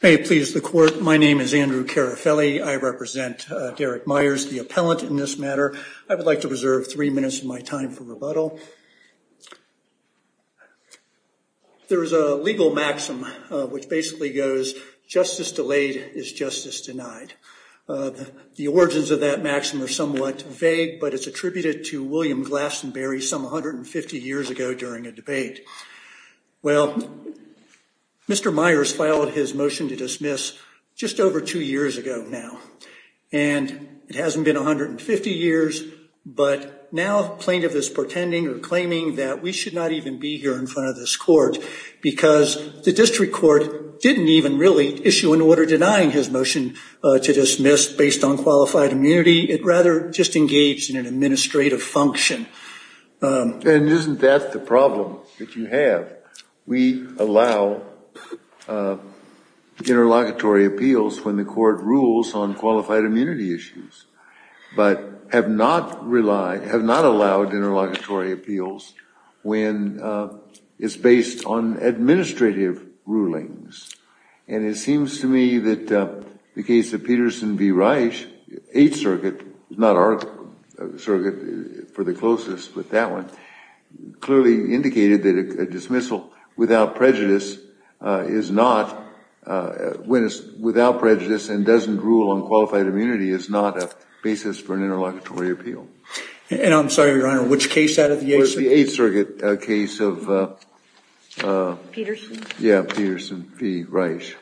May it please the court, my name is Andrew Carafelli. I represent Derek Myers, the appellant in this matter. I would like to reserve three minutes of my time for reporting. There is a legal maxim which basically goes, justice delayed is justice denied. The origins of that maxim are somewhat vague, but it's attributed to William Glastonbury some 150 years ago during a debate. Well, Mr. Myers filed his motion to dismiss just over two years ago now. And it hasn't been 150 years, but now plaintiff is pretending or claiming that we should not even be here in front of this court because the district court didn't even really issue an order denying his motion to dismiss based on qualified immunity. It rather just engaged in an administrative function. And isn't that the problem that you have? We allow interlocutory appeals when the court rules on qualified immunity issues, but have not allowed interlocutory appeals when it's based on administrative rulings. And it seems to me that the case of Peterson v. Reich, Eighth Circuit, not our circuit for the closest, but that one, clearly indicated that a dismissal without prejudice and doesn't rule on qualified immunity is not a basis for an interlocutory appeal. And I'm sorry, Your Honor, which case out of the Eighth Circuit? Peterson. Yeah, Peterson v. Reich.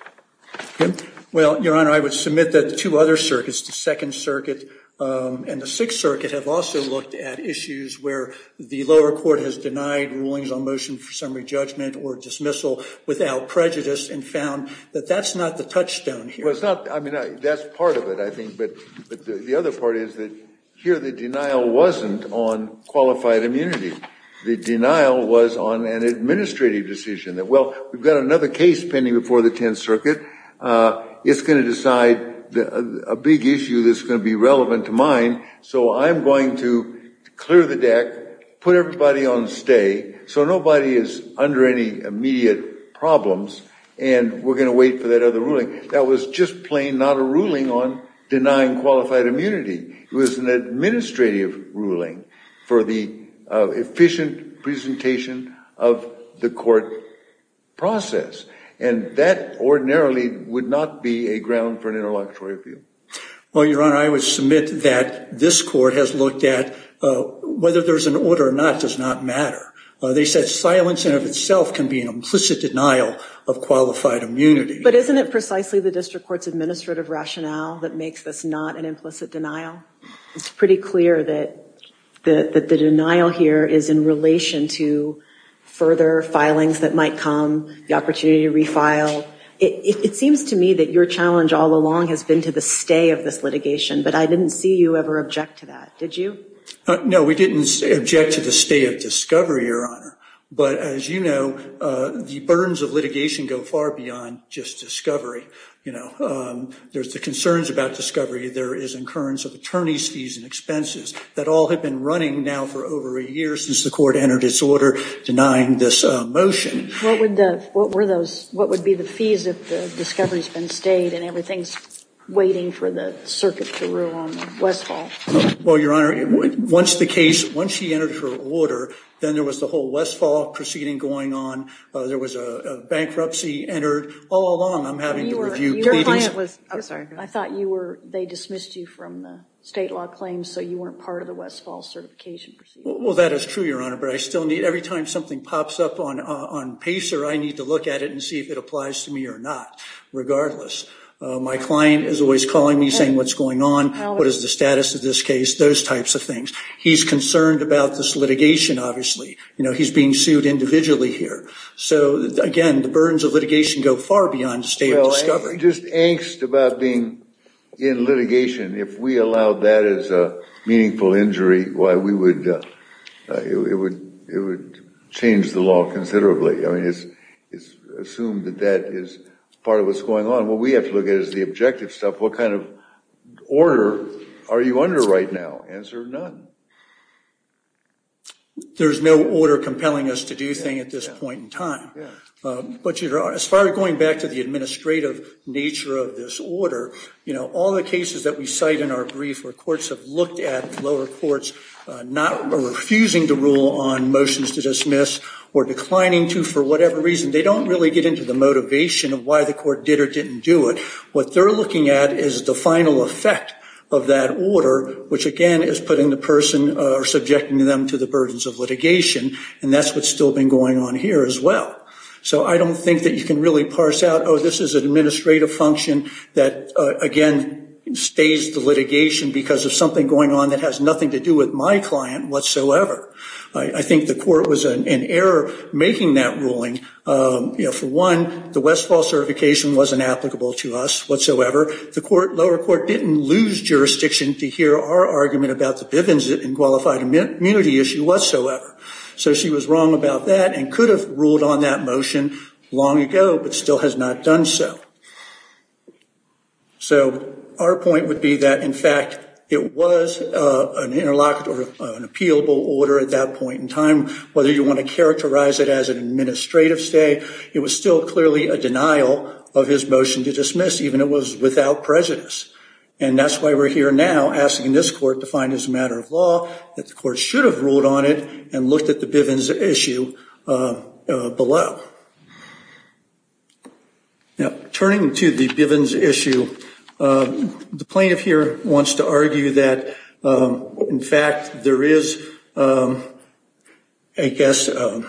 Well, Your Honor, I would submit that the two other circuits, the Second Circuit and the Sixth Circuit, have also looked at issues where the lower court has denied rulings on motion for summary judgment or dismissal without prejudice and found that that's not the touchstone here. That's part of it, I think. But the other part is that here the denial wasn't on qualified immunity. The denial was on an administrative decision that, well, we've got another case pending before the Tenth Circuit. It's going to decide a big issue that's going to be relevant to mine. So I'm going to clear the deck, put everybody on stay so nobody is under any immediate problems. And we're going to wait for that other ruling. That was just plain not a ruling on denying qualified immunity. It was an administrative ruling for the efficient presentation of the court process. And that ordinarily would not be a ground for an interlocutory appeal. Well, Your Honor, I would submit that this court has looked at whether there's an order or not does not matter. They said silence in of itself can be an implicit denial of qualified immunity. But isn't it precisely the district court's administrative rationale that makes this not an implicit denial? It's pretty clear that the denial here is in relation to further filings that might come, the opportunity to refile. It seems to me that your challenge all along has been to the stay of this litigation. But I didn't see you ever object to that. Did you? No, we didn't object to the stay of discovery, Your Honor. But as you know, the burdens of litigation go far beyond just discovery. There's the concerns about discovery. There is incurrence of attorney's fees and expenses that all have been running now for over a year since the court entered its order denying this motion. What would be the fees if the discovery's been stayed and everything's waiting for the circuit to rule on Westfall? Well, Your Honor, once the case, once she entered her order, then there was the whole Westfall proceeding going on. There was a bankruptcy entered. All along, I'm having to review pleadings. I thought they dismissed you from the state law claims so you weren't part of the Westfall certification proceedings. Well, that is true, Your Honor. But every time something pops up on Pacer, I need to look at it and see if it applies to me or not. Regardless, my client is always calling me saying what's going on, what is the status of this case, those types of things. He's concerned about this litigation, obviously. He's being sued individually here. So, again, the burdens of litigation go far beyond state discovery. Well, just angst about being in litigation, if we allowed that as a meaningful injury, it would change the law considerably. I mean, it's assumed that that is part of what's going on. What we have to look at is the objective stuff. What kind of order are you under right now? Answer none. There's no order compelling us to do a thing at this point in time. But as far as going back to the administrative nature of this order, all the cases that we cite in our brief where courts have looked at lower courts not refusing to rule on motions to dismiss or declining to for whatever reason, they don't really get into the motivation of why the court did or didn't do it. What they're looking at is the final effect of that order, which, again, is putting the person or subjecting them to the burdens of litigation. And that's what's still been going on here as well. So I don't think that you can really parse out, oh, this is an administrative function that, again, stays the litigation because of something going on that has nothing to do with my client whatsoever. I think the court was in error making that ruling. For one, the Westfall certification wasn't applicable to us whatsoever. The lower court didn't lose jurisdiction to hear our argument about the Bivens and qualified immunity issue whatsoever. So she was wrong about that and could have ruled on that motion long ago, but still has not done so. So our point would be that, in fact, it was an interlocked or an appealable order at that point in time. Whether you want to characterize it as an administrative stay, it was still clearly a denial of his motion to dismiss, even it was without prejudice. And that's why we're here now asking this court to find as a matter of law that the court should have ruled on it and looked at the Bivens issue below. Now, turning to the Bivens issue, the plaintiff here wants to argue that, in fact, there is, I guess, a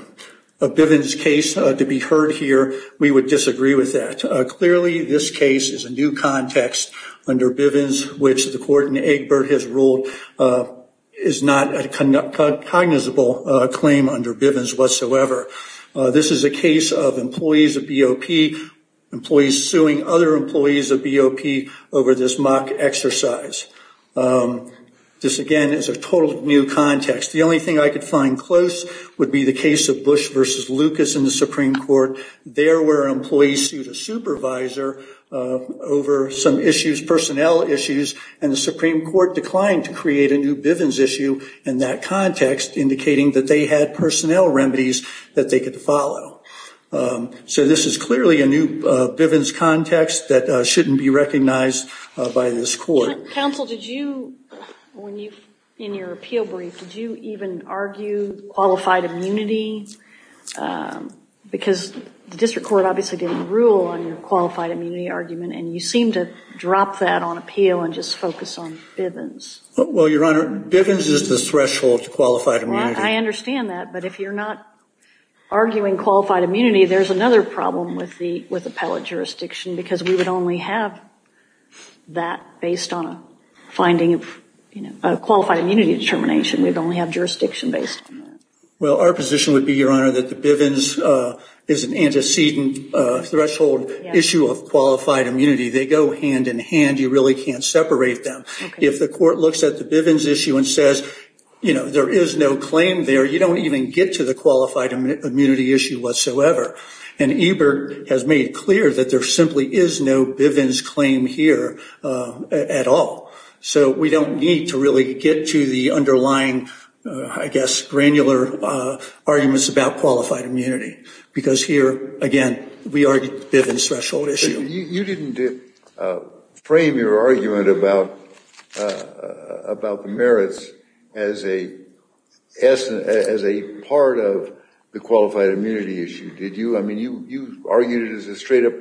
Bivens case to be heard here. We would disagree with that. Clearly, this case is a new context under Bivens, which the court in Egbert has ruled is not a cognizable claim under Bivens whatsoever. This is a case of employees of BOP, employees suing other employees of BOP over this mock exercise. This, again, is a total new context. The only thing I could find close would be the case of Bush versus Lucas in the Supreme Court. There were employees sued a supervisor over some issues, personnel issues, and the Supreme Court declined to create a new Bivens issue in that context, indicating that they had personnel remedies that they could follow. So this is clearly a new Bivens context that shouldn't be recognized by this court. Counsel, did you, in your appeal brief, did you even argue qualified immunity? Because the district court obviously didn't rule on your qualified immunity argument, and you seem to drop that on appeal and just focus on Bivens. Well, Your Honor, Bivens is the threshold to qualified immunity. I understand that, but if you're not arguing qualified immunity, there's another problem with appellate jurisdiction, because we would only have that based on a finding of qualified immunity determination. We'd only have jurisdiction based on that. Well, our position would be, Your Honor, that the Bivens is an antecedent threshold issue of qualified immunity. They go hand in hand. You really can't separate them. If the court looks at the Bivens issue and says, you know, there is no claim there, you don't even get to the qualified immunity issue whatsoever. And Ebert has made clear that there simply is no Bivens claim here at all. So we don't need to really get to the underlying, I guess, granular arguments about qualified immunity, because here, again, we argue the Bivens threshold issue. You didn't frame your argument about the merits as a part of the qualified immunity issue, did you? I mean, you argued it as a straight-up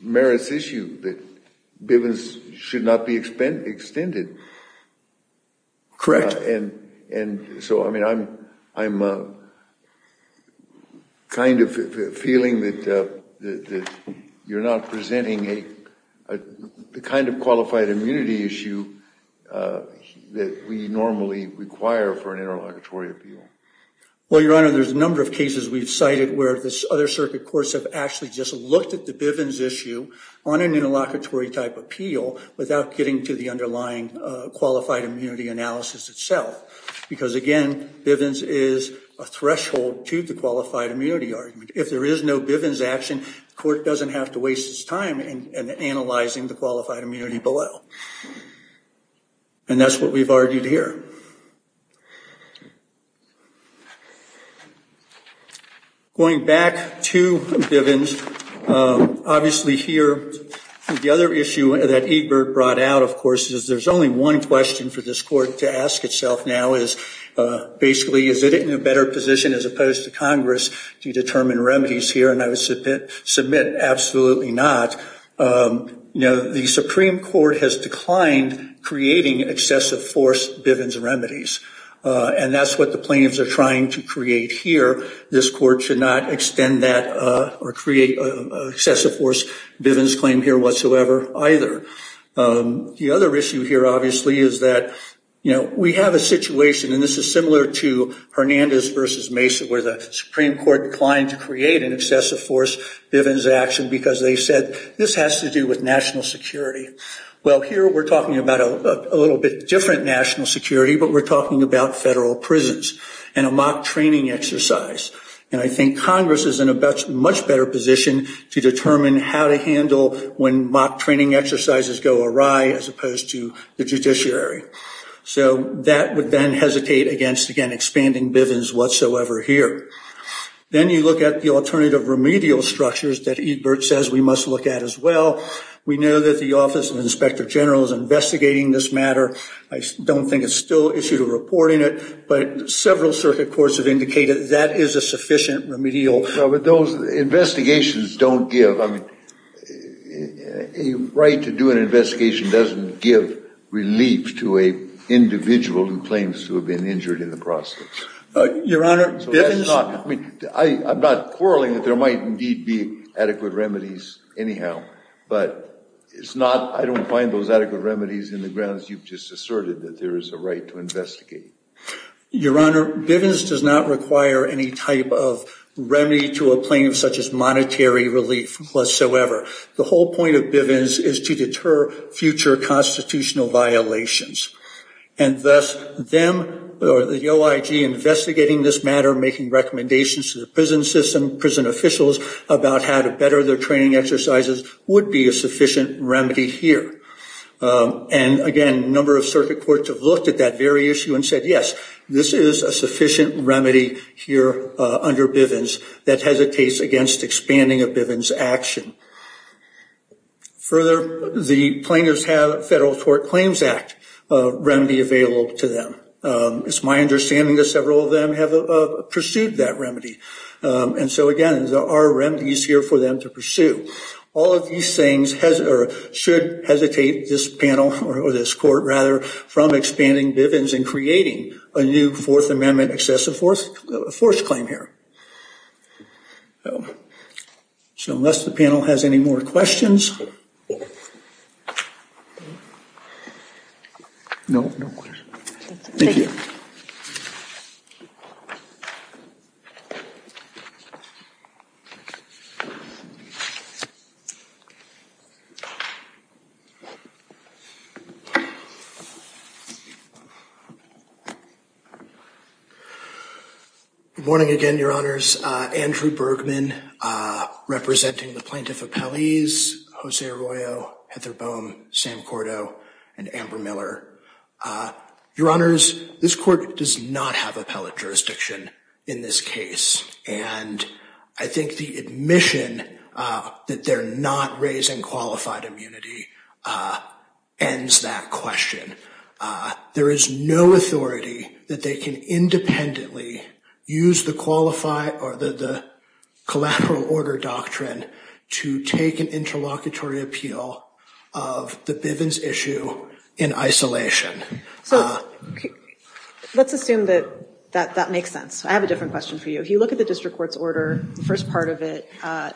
merits issue that Bivens should not be extended. Correct. And so, I mean, I'm kind of feeling that you're not presenting the kind of qualified immunity issue that we normally require for an interlocutory appeal. Well, Your Honor, there's a number of cases we've cited where the other circuit courts have actually just looked at the Bivens issue on an interlocutory type appeal without getting to the underlying qualified immunity analysis itself. Because, again, Bivens is a threshold to the qualified immunity argument. If there is no Bivens action, the court doesn't have to waste its time in analyzing the qualified immunity below. And that's what we've argued here. Going back to Bivens, obviously here, the other issue that Ebert brought out, of course, is there's only one question for this court to ask itself now is, basically, is it in a better position as opposed to Congress to determine remedies here? And I would submit absolutely not. The Supreme Court has declined creating excessive force Bivens remedies. And that's what the plaintiffs are trying to create here. This court should not extend that or create an excessive force Bivens claim here whatsoever either. The other issue here, obviously, is that we have a situation, and this is similar to Hernandez v. Mesa, where the Supreme Court declined to create an excessive force Bivens action because they said this has to do with national security. Well, here we're talking about a little bit different national security, but we're talking about federal prisons and a mock training exercise. And I think Congress is in a much better position to determine how to handle when mock training exercises go awry as opposed to the judiciary. So that would then hesitate against, again, expanding Bivens whatsoever here. Then you look at the alternative remedial structures that Ebert says we must look at as well. We know that the Office of the Inspector General is investigating this matter. I don't think it's still issued a report in it, but several circuit courts have indicated that is a sufficient remedial. But those investigations don't give, I mean, a right to do an investigation doesn't give relief to an individual who claims to have been injured in the process. Your Honor, Bivens. I mean, I'm not quarreling that there might indeed be adequate remedies anyhow, but it's not, I don't find those adequate remedies in the grounds you've just asserted that there is a right to investigate. Your Honor, Bivens does not require any type of remedy to a plaintiff such as monetary relief whatsoever. The whole point of Bivens is to deter future constitutional violations. And thus, them or the OIG investigating this matter, making recommendations to the prison system, prison officials about how to better their training exercises would be a sufficient remedy here. And, again, a number of circuit courts have looked at that very issue and said, yes, this is a sufficient remedy here under Bivens that hesitates against expanding a Bivens action. Further, the plaintiffs have a Federal Tort Claims Act remedy available to them. It's my understanding that several of them have pursued that remedy. And so, again, there are remedies here for them to pursue. All of these things should hesitate this panel or this court, rather, from expanding Bivens and creating a new Fourth Amendment excessive force claim here. So unless the panel has any more questions. No. Thank you. Thank you. Morning again, Your Honors. Andrew Bergman representing the Plaintiff of Palais, Jose Arroyo, Heather Bohm, Sam Cordo, and Amber Miller. Your Honors, this court does not have appellate jurisdiction in this case. And I think the admission that they're not raising qualified immunity ends that question. There is no authority that they can independently use the qualified or the collateral order doctrine to take an interlocutory appeal of the Bivens issue in isolation. So let's assume that that makes sense. I have a different question for you. If you look at the district court's order, the first part of it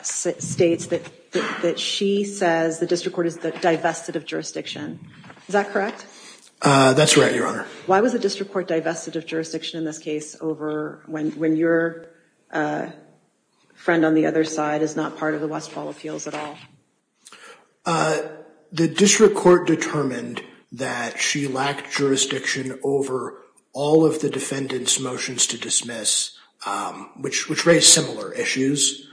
states that she says the district court is divested of jurisdiction. Is that correct? That's right, Your Honor. Why was the district court divested of jurisdiction in this case over when your friend on the other side is not part of the Westfall appeals at all? The district court determined that she lacked jurisdiction over all of the defendant's motions to dismiss, which raised similar issues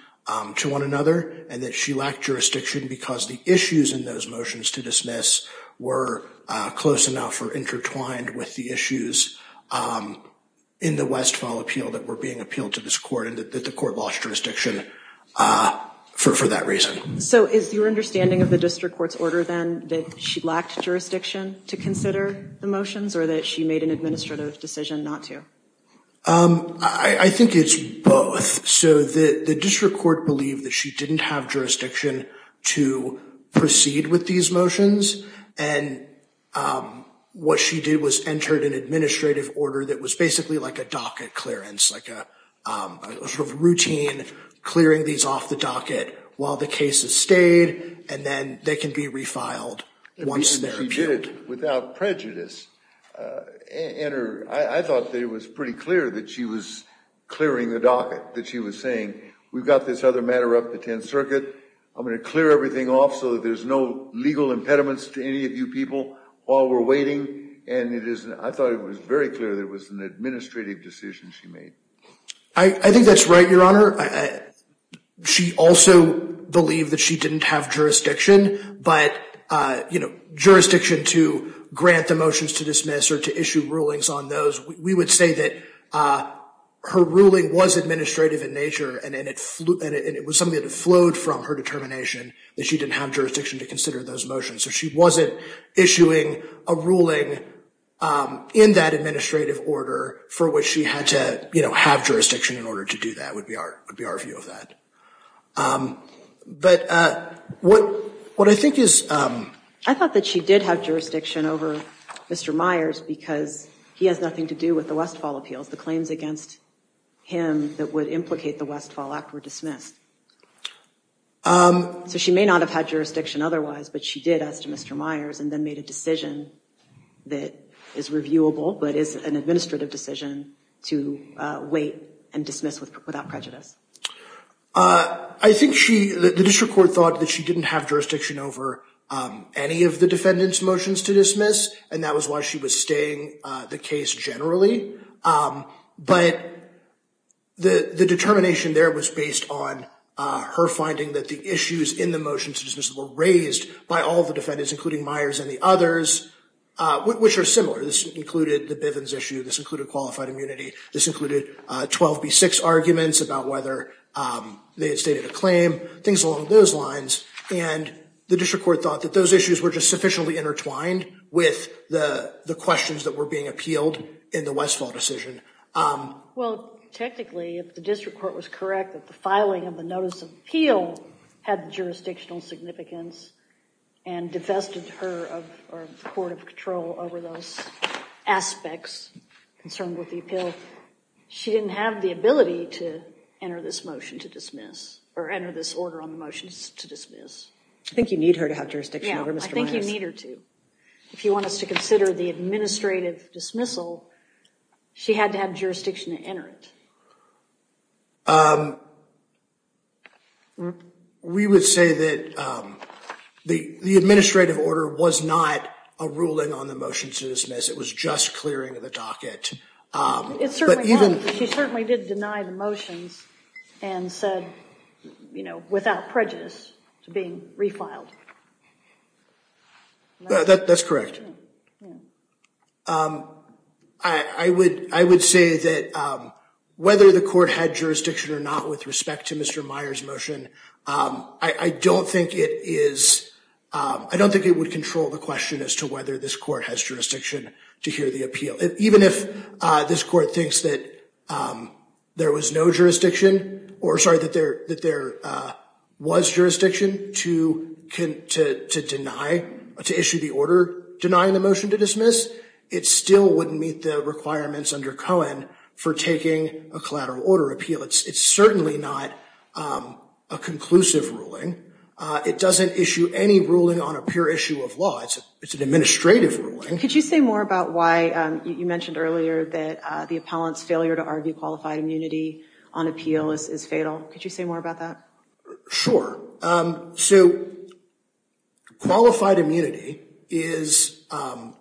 to one another, and that she lacked jurisdiction because the issues in those motions to dismiss were close enough or intertwined with the issues in the Westfall appeal that were being appealed to this court and that the court lost jurisdiction for that reason. So is your understanding of the district court's order then that she lacked jurisdiction to consider the motions or that she made an administrative decision not to? I think it's both. So the district court believed that she didn't have jurisdiction to proceed with these motions, and what she did was entered an administrative order that was basically like a docket clearance, like a sort of routine clearing these off the docket while the case has stayed, and then they can be refiled once they're appealed. She did it without prejudice. I thought that it was pretty clear that she was clearing the docket, that she was saying, we've got this other matter up the Tenth Circuit. I'm going to clear everything off so that there's no legal impediments to any of you people while we're waiting. And I thought it was very clear that it was an administrative decision she made. I think that's right, Your Honor. She also believed that she didn't have jurisdiction, but, you know, jurisdiction to grant the motions to dismiss or to issue rulings on those. We would say that her ruling was administrative in nature, and it was something that flowed from her determination that she didn't have jurisdiction to consider those motions. So she wasn't issuing a ruling in that administrative order for which she had to, you know, have jurisdiction in order to do that would be our view of that. But what I think is- I thought that she did have jurisdiction over Mr. Myers because he has nothing to do with the Westfall appeals. The claims against him that would implicate the Westfall Act were dismissed. So she may not have had jurisdiction otherwise, but she did as to Mr. Myers, and then made a decision that is reviewable, but is an administrative decision to wait and dismiss without prejudice. I think she- the district court thought that she didn't have jurisdiction over any of the defendant's motions to dismiss, and that was why she was staying the case generally. But the determination there was based on her finding that the issues in the motions were raised by all the defendants, including Myers and the others, which are similar. This included the Bivens issue. This included qualified immunity. This included 12B6 arguments about whether they had stated a claim, things along those lines. And the district court thought that those issues were just sufficiently intertwined with the questions that were being appealed in the Westfall decision. Well, technically, if the district court was correct, that the filing of the notice of appeal had jurisdictional significance and divested her of the court of control over those aspects concerned with the appeal, she didn't have the ability to enter this motion to dismiss or enter this order on the motions to dismiss. I think you need her to have jurisdiction over Mr. Myers. Yeah, I think you need her to. If you want us to consider the administrative dismissal, she had to have jurisdiction to enter it. We would say that the administrative order was not a ruling on the motions to dismiss. It was just clearing of the docket. It certainly was. She certainly did deny the motions and said, you know, without prejudice, to being refiled. That's correct. I would say that whether the court had jurisdiction or not with respect to Mr. Myers' motion, I don't think it would control the question as to whether this court has jurisdiction to hear the appeal. Even if this court thinks that there was jurisdiction to issue the order denying the motion to dismiss, it still wouldn't meet the requirements under Cohen for taking a collateral order appeal. It's certainly not a conclusive ruling. It doesn't issue any ruling on a pure issue of law. It's an administrative ruling. Could you say more about why you mentioned earlier that the appellant's failure to argue qualified immunity on appeal is fatal? Could you say more about that? Sure. So qualified immunity is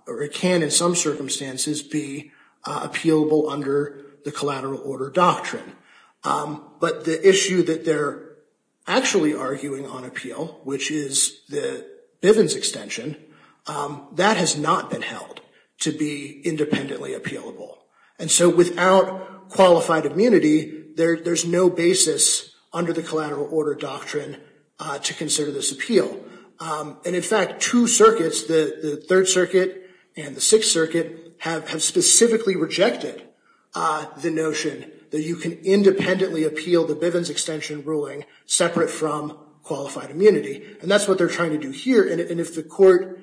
or it can in some circumstances be appealable under the collateral order doctrine. But the issue that they're actually arguing on appeal, which is the Bivens extension, that has not been held to be independently appealable. And so without qualified immunity, there's no basis under the collateral order doctrine to consider this appeal. And in fact, two circuits, the Third Circuit and the Sixth Circuit, have specifically rejected the notion that you can independently appeal the Bivens extension ruling separate from qualified immunity. And that's what they're trying to do here. And if the court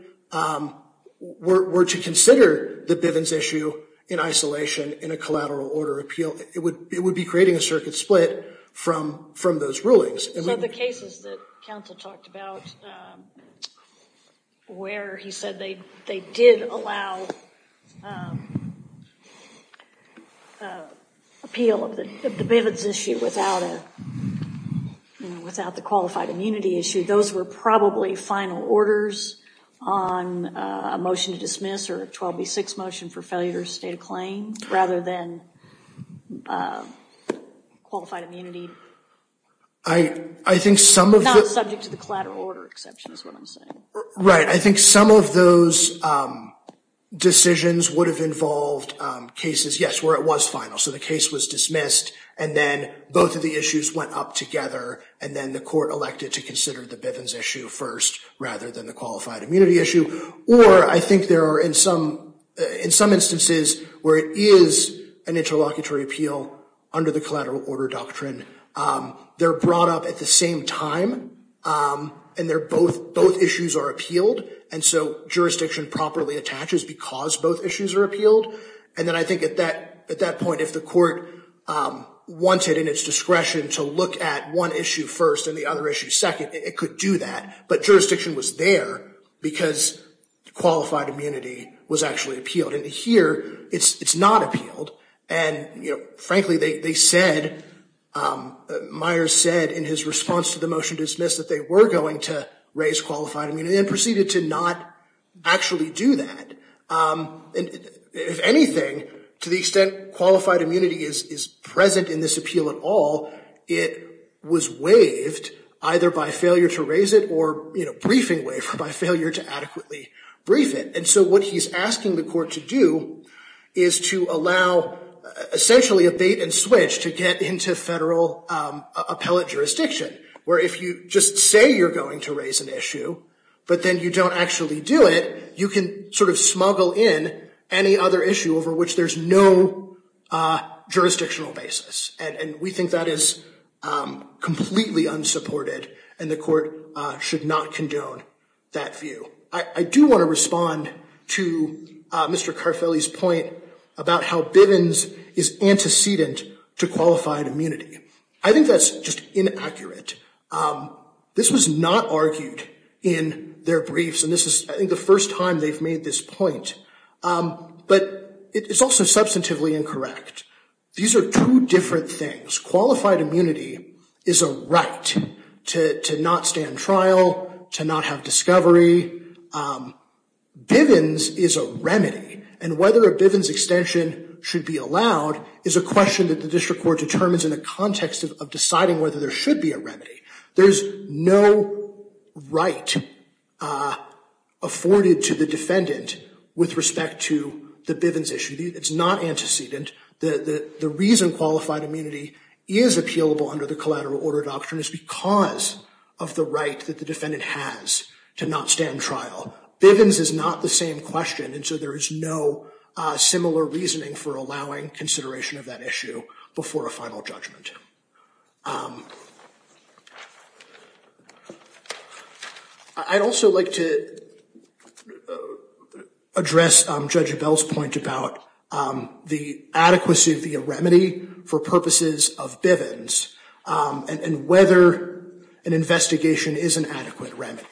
were to consider the Bivens issue in isolation in a collateral order appeal, it would be creating a circuit split from those rulings. So the cases that counsel talked about where he said they did allow appeal of the Bivens issue without the qualified immunity issue, those were probably final orders on a motion to dismiss or a 12B6 motion for failure to state a claim rather than qualified immunity. I think some of the... Not subject to the collateral order exception is what I'm saying. Right. I think some of those decisions would have involved cases, yes, where it was final. So the case was dismissed. And then both of the issues went up together. And then the court elected to consider the Bivens issue first rather than the qualified immunity issue. Or I think there are in some instances where it is an interlocutory appeal under the collateral order doctrine. They're brought up at the same time. And they're both... Both issues are appealed. And so jurisdiction properly attaches because both issues are appealed. And then I think at that point, if the court wanted in its discretion to look at one issue first and the other issue second, it could do that. But jurisdiction was there because qualified immunity was actually appealed. And here, it's not appealed. And, you know, frankly, they said, Myers said in his response to the motion dismissed that they were going to raise qualified immunity and proceeded to not actually do that. If anything, to the extent qualified immunity is present in this appeal at all, it was waived either by failure to raise it or, you know, briefing waiver by failure to adequately brief it. And so what he's asking the court to do is to allow essentially a bait and switch to get into federal appellate jurisdiction. Where if you just say you're going to raise an issue, but then you don't actually do it, you can sort of smuggle in any other issue over which there's no jurisdictional basis. And we think that is completely unsupported. And the court should not condone that view. I do want to respond to Mr. Carfelli's point about how Bivens is antecedent to qualified immunity. I think that's just inaccurate. This was not argued in their briefs. And this is, I think, the first time they've made this point. But it's also substantively incorrect. These are two different things. Qualified immunity is a right to not stand trial, to not have discovery. Bivens is a remedy. And whether a Bivens extension should be allowed is a question that the district court determines in the context of deciding whether there should be a remedy. There's no right afforded to the defendant with respect to the Bivens issue. It's not antecedent. The reason qualified immunity is appealable under the collateral order doctrine is because of the right that the defendant has to not stand trial. Bivens is not the same question. And so there is no similar reasoning for allowing consideration of that issue before a final judgment. I'd also like to address Judge Abell's point about the adequacy of the remedy for purposes of Bivens and whether an investigation is an adequate remedy.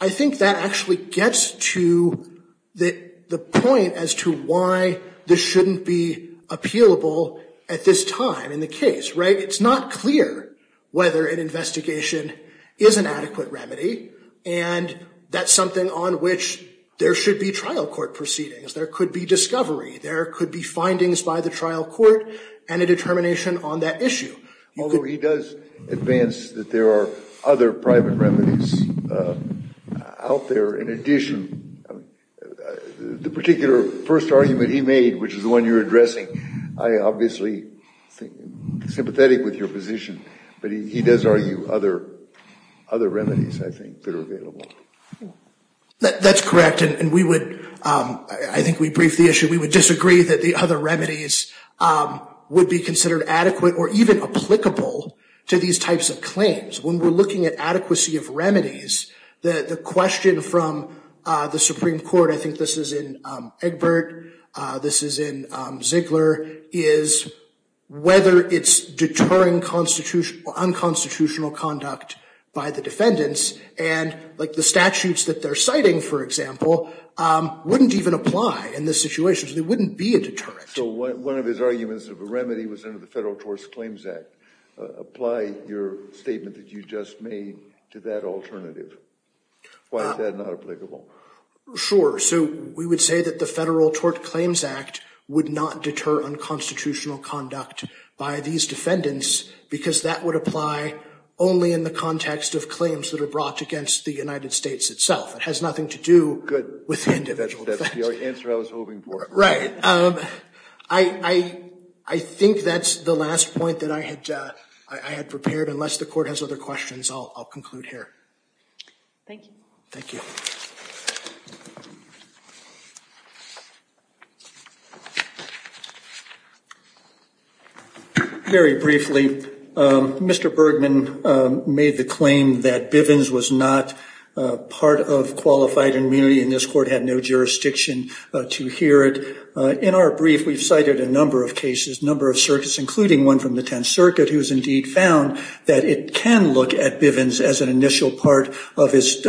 I think that actually gets to the point as to why this shouldn't be appealable at this time in the case, right? It's not clear whether an investigation is an adequate remedy. And that's something on which there should be trial court proceedings. There could be discovery. There could be findings by the trial court and a determination on that issue. Although he does advance that there are other private remedies out there. In addition, the particular first argument he made, which is the one you're addressing, I obviously am sympathetic with your position. But he does argue other remedies, I think, that are available. That's correct. And I think we briefed the issue. We would disagree that the other remedies would be considered adequate or even applicable to these types of claims. When we're looking at adequacy of remedies, the question from the Supreme Court, I think this is in Egbert, this is in Ziegler, is whether it's deterring unconstitutional conduct by the defendants. And the statutes that they're citing, for example, wouldn't even apply in this situation. So there wouldn't be a deterrent. So one of his arguments of a remedy was under the Federal Tort Claims Act. Apply your statement that you just made to that alternative. Why is that not applicable? Sure. So we would say that the Federal Tort Claims Act would not deter unconstitutional conduct by these defendants because that would apply only in the context of claims that are brought against the United States itself. It has nothing to do with the individual defendants. That's the answer I was hoping for. Right. I think that's the last point that I had prepared. Unless the Court has other questions, I'll conclude here. Thank you. Thank you. Very briefly, Mr. Bergman made the claim that Bivens was not part of qualified immunity and this Court had no jurisdiction to hear it. In our brief, we've cited a number of cases, a number of circuits, including one from the Tenth Circuit, who has indeed found that it can look at Bivens as an initial part of his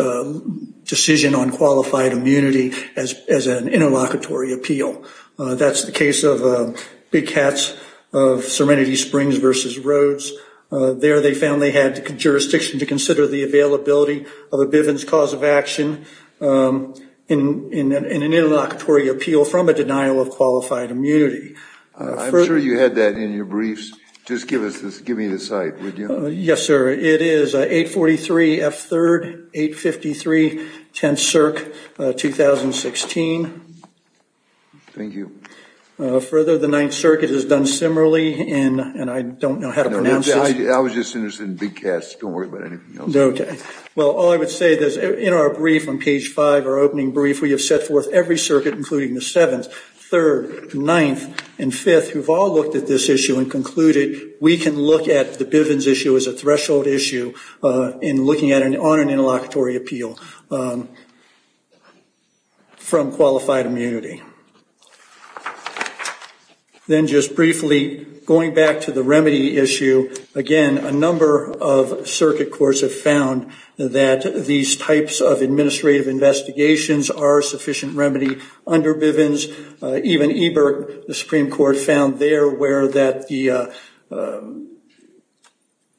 decision on qualified immunity as an interlocutory appeal. That's the case of Big Cats of Serenity Springs v. Rhodes. There they found they had jurisdiction to consider the availability of a Bivens cause of action in an interlocutory appeal from a denial of qualified immunity. I'm sure you had that in your briefs. Just give me the site, would you? Yes, sir. It is 843 F. 3rd, 853 Tenth Circuit, 2016. Thank you. Further, the Ninth Circuit has done similarly, and I don't know how to pronounce this. I was just interested in Big Cats. Don't worry about anything else. Okay. Well, all I would say is in our brief on page 5, our opening brief, we have set forth every circuit, including the Seventh, Third, Ninth, and Fifth, who've all looked at this issue and concluded we can look at the Bivens issue as a threshold issue in looking on an interlocutory appeal from qualified immunity. Then just briefly, going back to the remedy issue, again, a number of circuit courts have found that these types of administrative investigations are a sufficient remedy under Bivens. Even Ebert, the Supreme Court, found there where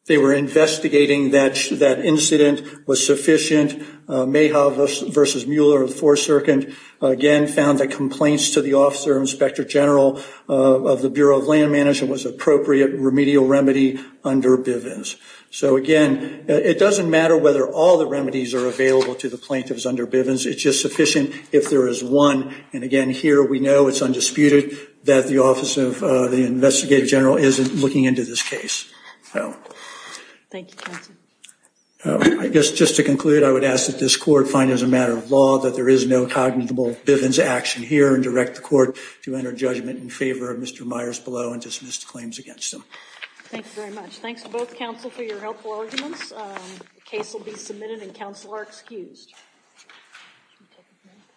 they were investigating that incident was sufficient. Mayhaw v. Mueller of the Fourth Circuit, again, found that complaints to the officer inspector general of the Bureau of Land Management was an appropriate remedial remedy under Bivens. So, again, it doesn't matter whether all the remedies are available to the plaintiffs under Bivens. It's just sufficient if there is one. And, again, here we know it's undisputed that the office of the investigative general isn't looking into this case. Thank you, counsel. I guess just to conclude, I would ask that this court find as a matter of law that there is no cognizable Bivens action here and direct the court to enter judgment in favor of Mr. Myers below and dismiss the claims against him. Thank you very much. Thanks to both counsel for your helpful arguments. The case will be submitted and counsel are excused.